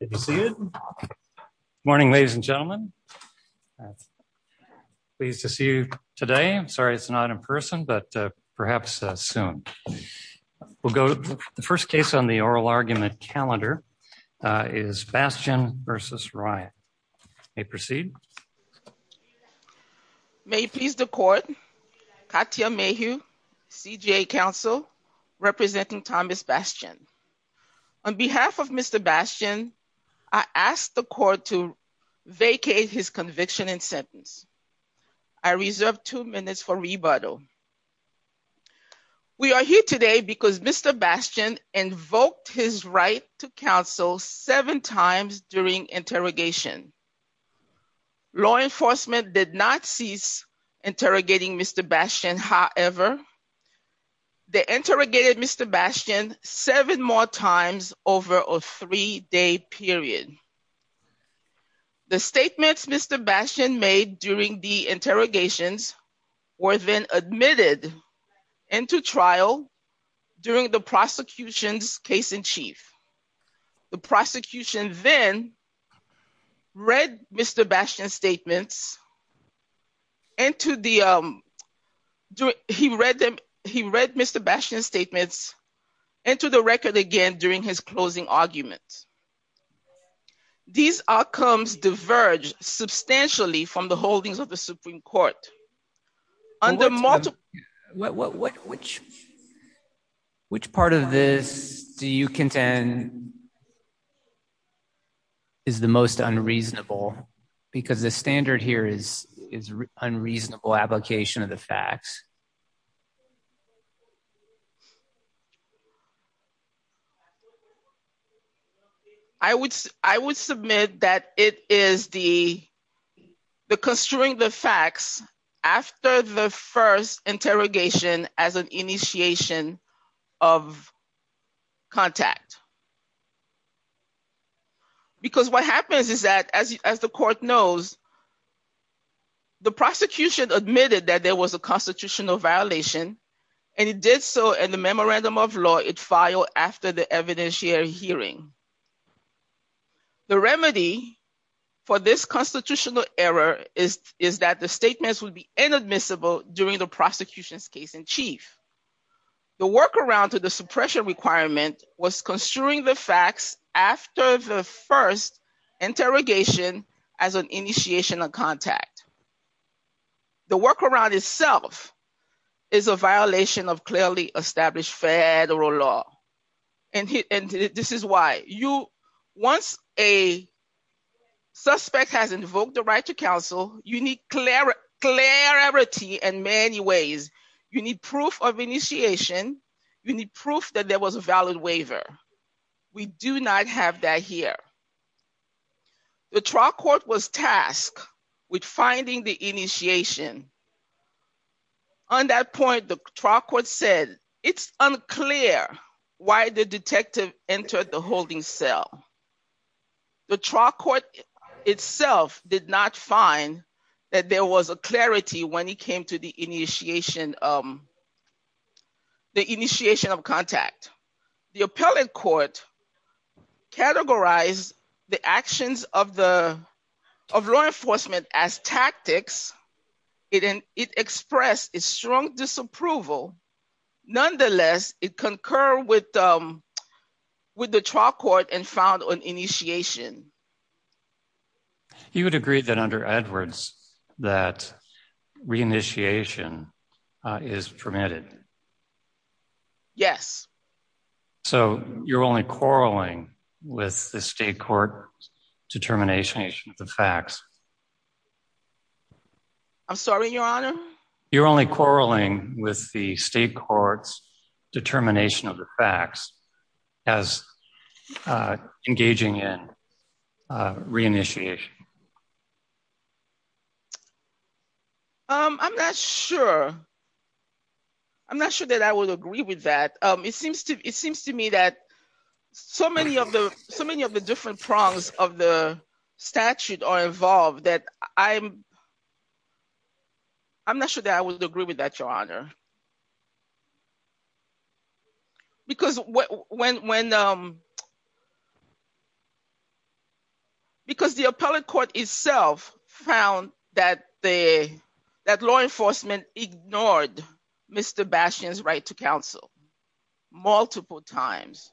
Good to see you. Good morning, ladies and gentlemen. Pleased to see you today. I'm sorry it's not in person, but perhaps soon. We'll go to the first case on the oral argument calendar is Bastian v. Ryan. May proceed. May it please the court. Katya Mayhew, CJA counsel, representing Thomas Bastian. On behalf of Mr. Bastian, I ask the court to vacate his conviction and sentence. I reserve two minutes for rebuttal. We are here today because Mr. Bastian invoked his right to counsel seven times during interrogation. Law enforcement did not cease interrogating Mr. Bastian. However, they interrogated Mr. Bastian seven more times over a three-day period. The statements Mr. Bastian made during the interrogations were then admitted into trial during the prosecution's case in chief. The prosecution then read Mr. Bastian's statements. He read Mr. Bastian's statements into the record again during his closing arguments. These outcomes diverged substantially from the holdings of the Supreme Court. Which part of this do you contend is the most unreasonable? Because the standard here is unreasonable application of the facts. I would submit that it is the construing the facts after the first interrogation as an initiation of contact. Because what happens is that, as the court knows, the prosecution admitted that there was a constitutional violation, and it did so in the memorandum of law it filed after the evidentiary hearing. The remedy for this constitutional error is that the statements would be inadmissible during the prosecution's case in chief. The workaround to the suppression requirement was construing the facts after the first interrogation as an initiation of contact. The workaround itself is a violation of clearly established federal law. And this is why. Once a suspect has invoked the right to counsel, you need clarity in many ways. You need proof of initiation. You need proof that there was a valid waiver. We do not have that here. The trial court was tasked with finding the initiation. On that point, the trial court said it's unclear why the detective entered the holding cell. The trial court itself did not find that there was a clarity when it came to the initiation of contact. The appellate court categorized the actions of the law enforcement as tactics. It expressed a strong disapproval. Nonetheless, it concurred with the trial court and found an initiation. You would agree that under Edwards that re-initiation is permitted? Yes. So you're only quarreling with the state court's determination of the facts? I'm sorry, Your Honor? You're only quarreling with the state court's determination of the facts as engaging in re-initiation? I'm not sure. I'm not sure that I would agree with that. It seems to me that so many of the different prongs of the statute are involved that I'm not sure that I would agree with that, Your Honor. Because the appellate court itself found that law enforcement ignored Mr. Bashian's right to counsel multiple times.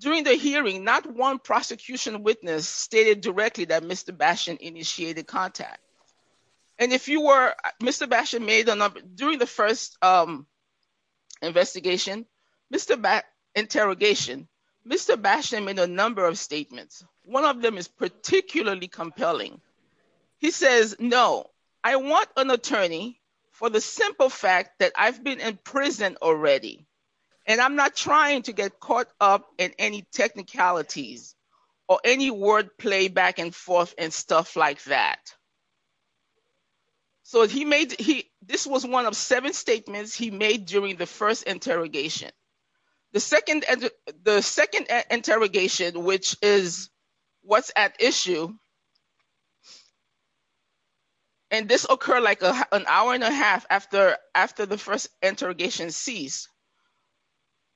During the hearing, not one prosecution witness stated directly that Mr. Bashian initiated contact. During the first interrogation, Mr. Bashian made a number of statements. One of them is particularly compelling. He says, no, I want an attorney for the simple fact that I've been in prison already. And I'm not trying to get caught up in any technicalities or any word play back and forth and stuff like that. So this was one of seven statements he made during the first interrogation. The second interrogation, which is what's at issue, and this occurred like an hour and a half after the first interrogation ceased,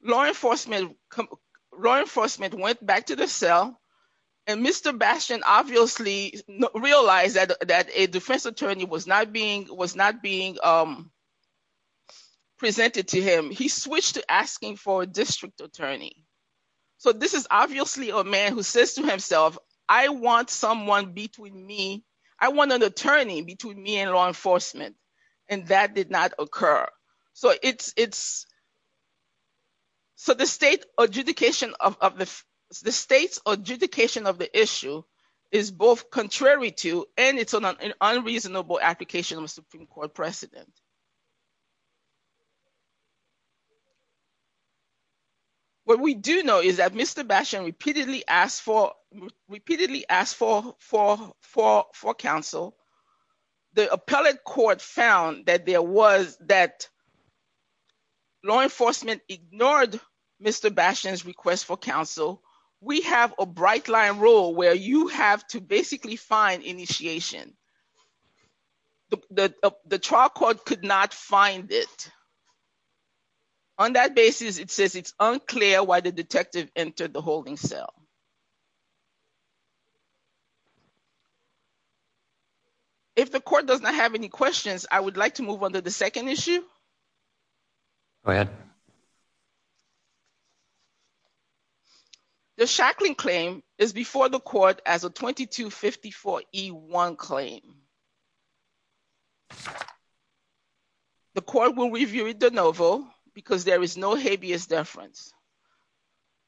law enforcement went back to the cell. And Mr. Bashian obviously realized that a defense attorney was not being presented to him. He switched to asking for a district attorney. So this is obviously a man who says to himself, I want someone between me. I want an attorney between me and law enforcement. And that did not occur. So the state's adjudication of the issue is both contrary to and it's an unreasonable application of a Supreme Court precedent. What we do know is that Mr. Bashian repeatedly asked for counsel. The appellate court found that there was that law enforcement ignored Mr. Bashian's request for counsel. We have a bright line rule where you have to basically find initiation. The trial court could not find it. On that basis, it says it's unclear why the detective entered the holding cell. If the court does not have any questions, I would like to move on to the second issue. Go ahead. The shackling claim is before the court as a 2254 E1 claim. The court will review it de novo because there is no habeas deference.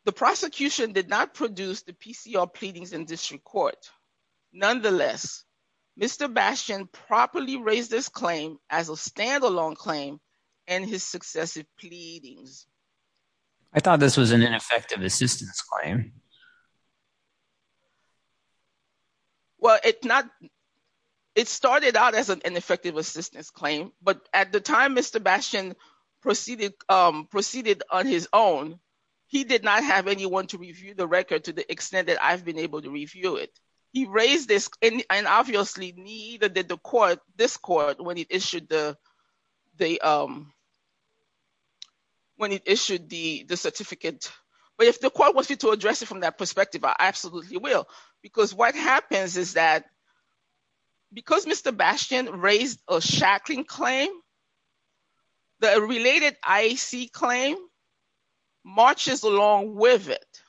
The prosecution did not produce the PCR pleadings in district court. Nonetheless, Mr. Bashian properly raised this claim as a standalone claim and his successive pleadings. I thought this was an ineffective assistance claim. Well, it's not – it started out as an ineffective assistance claim. But at the time Mr. Bashian proceeded on his own, he did not have anyone to review the record to the extent that I've been able to review it. He raised this and obviously neither did this court when it issued the certificate. But if the court wants me to address it from that perspective, I absolutely will. Because what happens is that because Mr. Bashian raised a shackling claim, the related IAC claim marches along with it.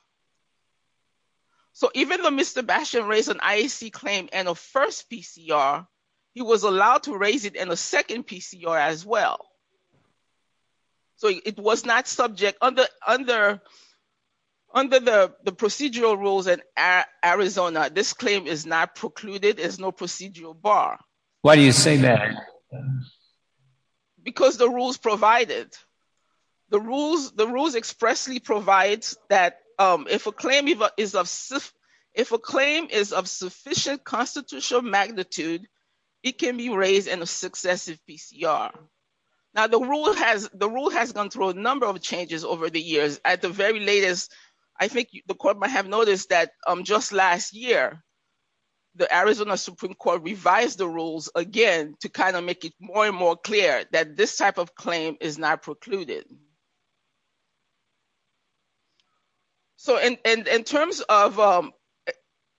So even though Mr. Bashian raised an IAC claim and a first PCR, he was allowed to raise it in a second PCR as well. So it was not subject – under the procedural rules in Arizona, this claim is not precluded. There's no procedural bar. Why do you say that? Because the rules provide it. The rules expressly provide that if a claim is of sufficient constitutional magnitude, it can be raised in a successive PCR. Now, the rule has gone through a number of changes over the years. At the very latest, I think the court might have noticed that just last year, the Arizona Supreme Court revised the rules again to kind of make it more and more clear that this type of claim is not precluded. So in terms of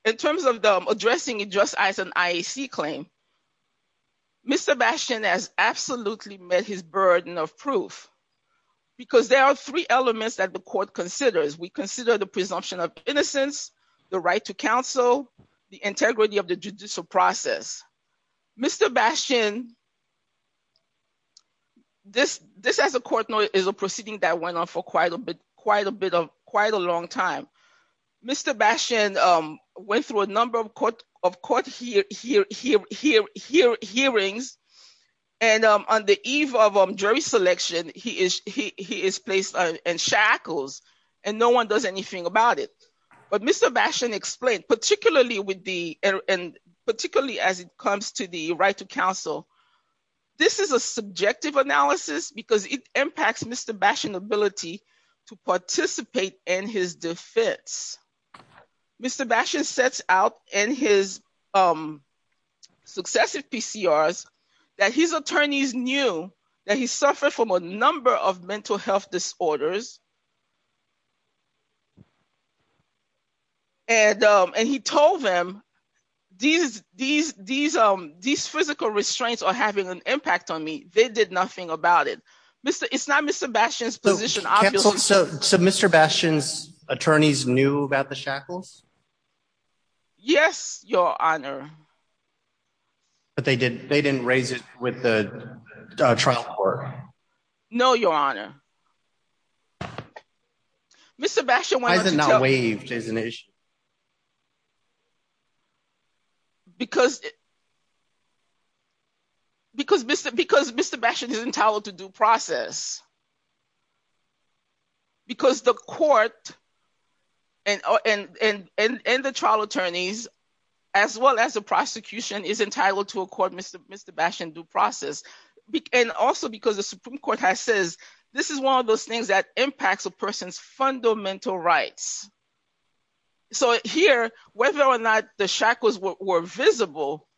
addressing it just as an IAC claim, Mr. Bashian has absolutely met his burden of proof. Because there are three elements that the court considers. We consider the presumption of innocence, the right to counsel, the integrity of the judicial process. Mr. Bashian – this, as a court, is a proceeding that went on for quite a long time. Mr. Bashian went through a number of court hearings, and on the eve of jury selection, he is placed on shackles, and no one does anything about it. But Mr. Bashian explained, particularly as it comes to the right to counsel, this is a subjective analysis because it impacts Mr. Bashian's ability to participate in his defense. Mr. Bashian sets out in his successive PCRs that his attorneys knew that he suffered from a number of mental health disorders, and he told them these physical restraints are having an impact on me. They did nothing about it. It's not Mr. Bashian's position, obviously. So Mr. Bashian's attorneys knew about the shackles? Yes, Your Honor. But they didn't raise it with the trial court? No, Your Honor. Why is it not waived as an issue? Because Mr. Bashian is entitled to due process. Because the court and the trial attorneys as well as the prosecution is entitled to accord Mr. Bashian due process. And also because the Supreme Court has said this is one of those things that impacts a person's fundamental rights. So here, whether or not the shackles were visible,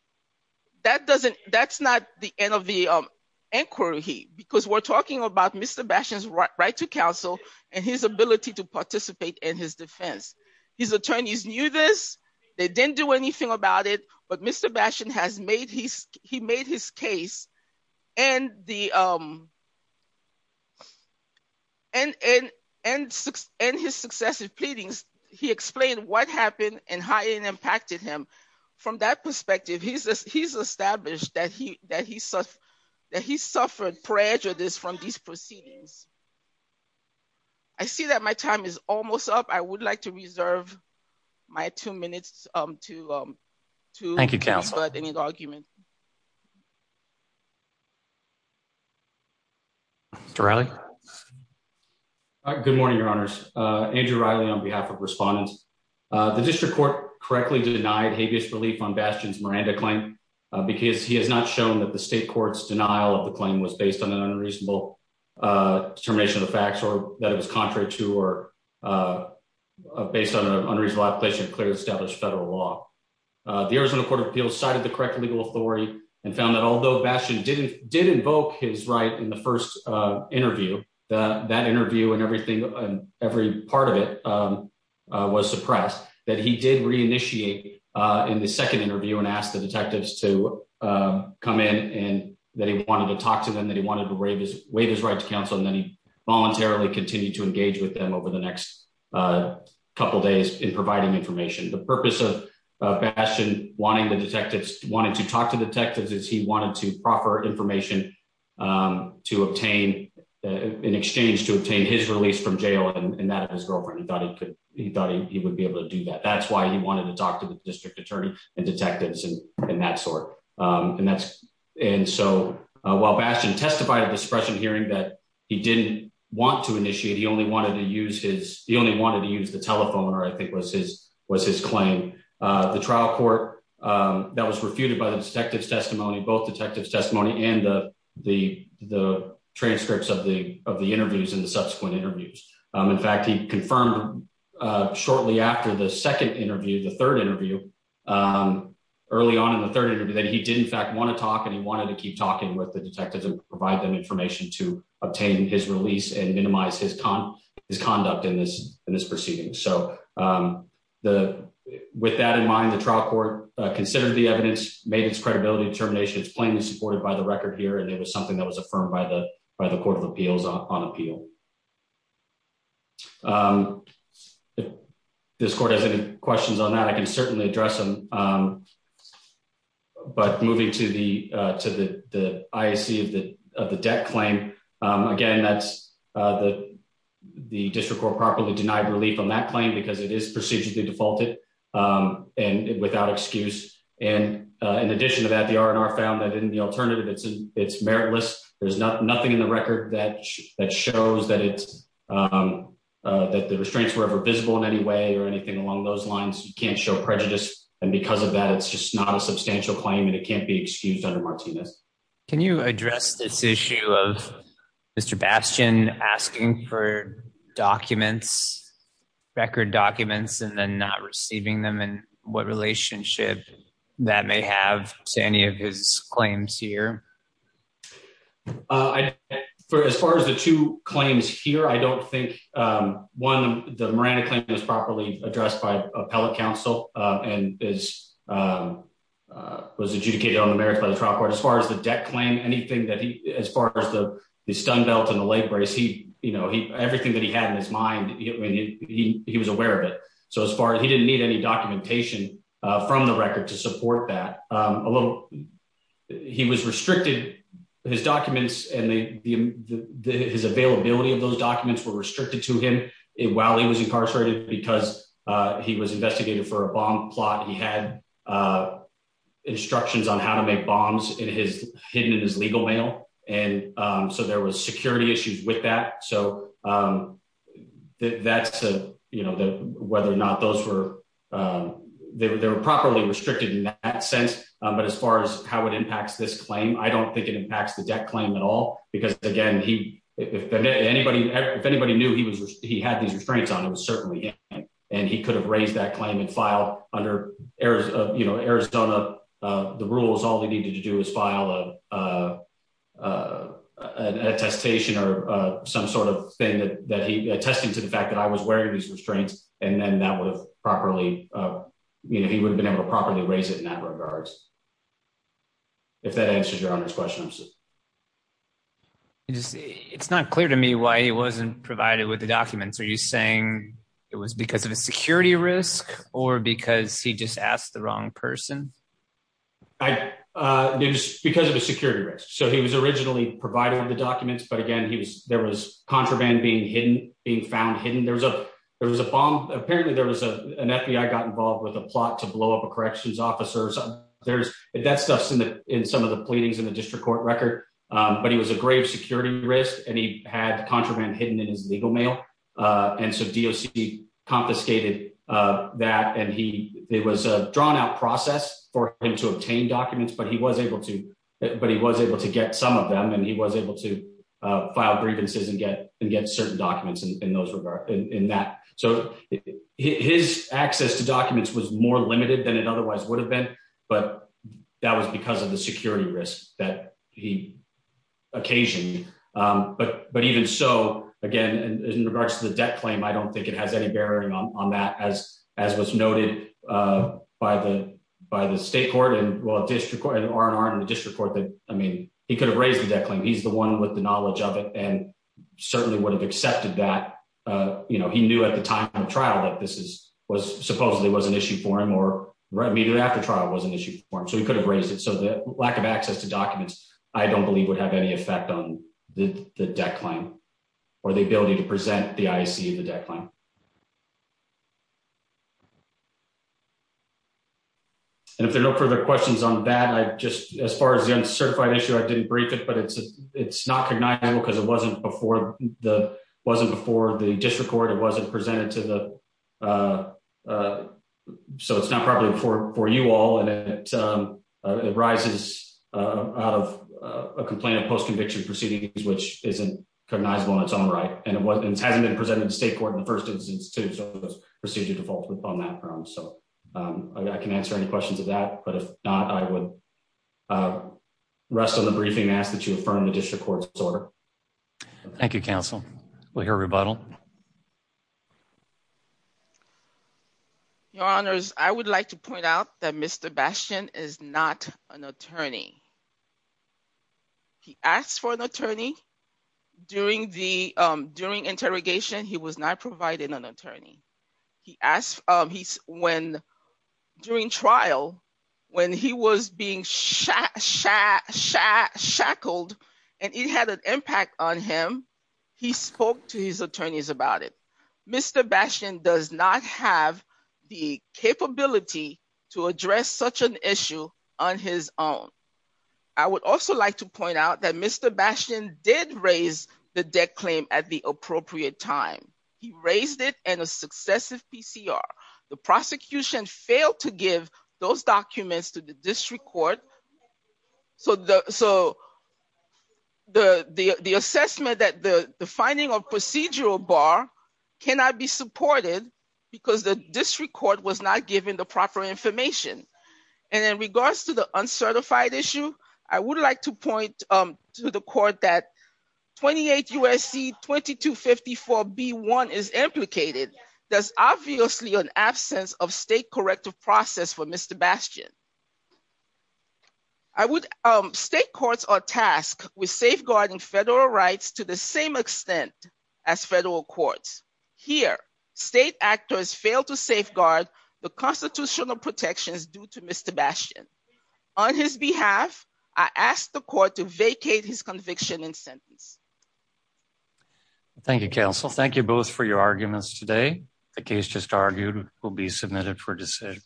that's not the end of the inquiry, because we're talking about Mr. Bashian's right to counsel and his ability to participate in his defense. His attorneys knew this. They didn't do anything about it. But Mr. Bashian has made his case, and his successive pleadings, he explained what happened and how it impacted him. From that perspective, he's established that he suffered prejudice from these proceedings. I see that my time is almost up. I would like to reserve my two minutes to... Thank you, counsel. Mr. Riley? Good morning, Your Honors. Andrew Riley on behalf of respondents. The district court correctly denied habeas relief on Bashian's Miranda claim because he has not shown that the state court's denial of the claim was based on an unreasonable determination of the facts or that it was contrary to or based on an unreasonable application of clearly established federal law. The Arizona Court of Appeals cited the correct legal authority and found that although Bashian did invoke his right in the first interview, that interview and every part of it was suppressed, that he did reinitiate in the second interview and asked the detectives to come in, and that he wanted to talk to them, that he wanted to waive his right to counsel, and then he voluntarily continued to engage with them over the next couple days in providing information. The purpose of Bashian wanting the detectives, wanting to talk to detectives, is he wanted to proffer information in exchange to obtain his release from jail, and that of his girlfriend. He thought he would be able to do that. That's why he wanted to talk to the district attorney and detectives and that sort. And so while Bashian testified at the suppression hearing that he didn't want to initiate, he only wanted to use the telephone, or I think was his claim. The trial court, that was refuted by the detective's testimony, both detective's testimony and the transcripts of the interviews and the subsequent interviews. In fact, he confirmed shortly after the second interview, the third interview, early on in the third interview, that he did in fact want to talk and he wanted to keep talking with the detectives and provide them information to obtain his release and minimize his conduct in this proceeding. So with that in mind, the trial court considered the evidence, made its credibility determination. It's plainly supported by the record here, and it was something that was affirmed by the Court of Appeals on appeal. If this court has any questions on that, I can certainly address them. But moving to the IAC of the debt claim, again, that's the district court properly denied relief on that claim because it is procedurally defaulted and without excuse. And in addition to that, the R&R found that in the alternative, it's meritless. There's nothing in the record that shows that the restraints were ever visible in any way or anything along those lines. You can't show prejudice. And because of that, it's just not a substantial claim and it can't be excused under Martinez. Can you address this issue of Mr. Bastian asking for documents, record documents, and then not receiving them and what relationship that may have to any of his claims here? As far as the two claims here, I don't think one, the Miranda claim was properly addressed by appellate counsel and was adjudicated on the merits by the trial court. As far as the debt claim, anything that he, as far as the stun belt and the leg brace, he, you know, everything that he had in his mind, he was aware of it. So as far as he didn't need any documentation from the record to support that, he was restricted. His documents and his availability of those documents were restricted to him while he was incarcerated because he was investigated for a bomb plot. He had instructions on how to make bombs in his hidden in his legal mail. And so there was security issues with that. So that's a you know, whether or not those were there were properly restricted in that sense. But as far as how it impacts this claim, I don't think it impacts the debt claim at all, because, again, he if anybody if anybody knew he was he had these restraints on it was certainly. And he could have raised that claim and file under Arizona. The rules all they need to do is file a test station or some sort of thing that he attested to the fact that I was wearing these restraints, and then that was properly. He would have been able to properly raise it in that regards. If that answers your questions. It's not clear to me why he wasn't provided with the documents. Are you saying it was because of a security risk or because he just asked the wrong person. I knew because of a security risk. So he was originally provided with the documents. But again, he was there was contraband being hidden being found hidden. And there was a, there was a bomb. Apparently there was a, an FBI got involved with a plot to blow up a corrections officers, there's that stuff in the in some of the pleadings in the district court record. But he was a grave security risk and he had contraband hidden in his legal mail. And so DOC confiscated that and he was a drawn out process for him to obtain documents but he was able to, but he was able to get some of them and he was able to file grievances and get and get certain documents and those were in that. So, his access to documents was more limited than it otherwise would have been. But that was because of the security risk that he occasion. But, but even so, again, in regards to the debt claim I don't think it has any bearing on that as, as was noted by the, by the state court and well district court and are in the district court that, I mean, he could have raised the debt claim he's the one with the knowledge of it and certainly would have accepted that, you know, he knew at the time of trial that this is was supposedly was an issue for him or read me that after trial was an issue for him so he could have raised it so that lack of access to documents. I don't believe would have any effect on the debt claim, or the ability to present the IC the deadline. And if there are no further questions on that I just, as far as the uncertified issue I didn't break it but it's, it's not connected because it wasn't before the wasn't before the district court it wasn't presented to the. So it's not probably for for you all and it rises out of a complaint of post conviction proceedings which isn't cognizable in its own right, and it wasn't it hasn't been presented to state court in the first instance to procedure defaults with on that ground so I can answer any questions of that, but if not, I would rest of the briefing ask that you affirm the district court order. Thank you counsel will hear rebuttal. Your Honors, I would like to point out that Mr bastion is not an attorney. He asked for an attorney during the during interrogation he was not provided an attorney. He asked, he's when during trial. When he was being shot shot shot shackled, and it had an impact on him. He spoke to his attorneys about it. Mr bastion does not have the capability to address such an issue on his own. I would also like to point out that Mr bastion did raise the deck claim at the appropriate time. He raised it, and a successive PCR, the prosecution failed to give those documents to the district court. So, so the, the, the assessment that the, the finding of procedural bar cannot be supported, because the district court was not given the proper information. And in regards to the uncertified issue, I would like to point to the court that 28 USC 2254 be one is implicated. There's obviously an absence of state corrective process for Mr bastion. I would state courts are tasked with safeguarding federal rights to the same extent as federal courts here state actors fail to safeguard the constitutional protections due to Mr bastion. On his behalf, I asked the court to vacate his conviction in sentence. Thank you, counsel. Thank you both for your arguments today. The case just argued will be submitted for decision.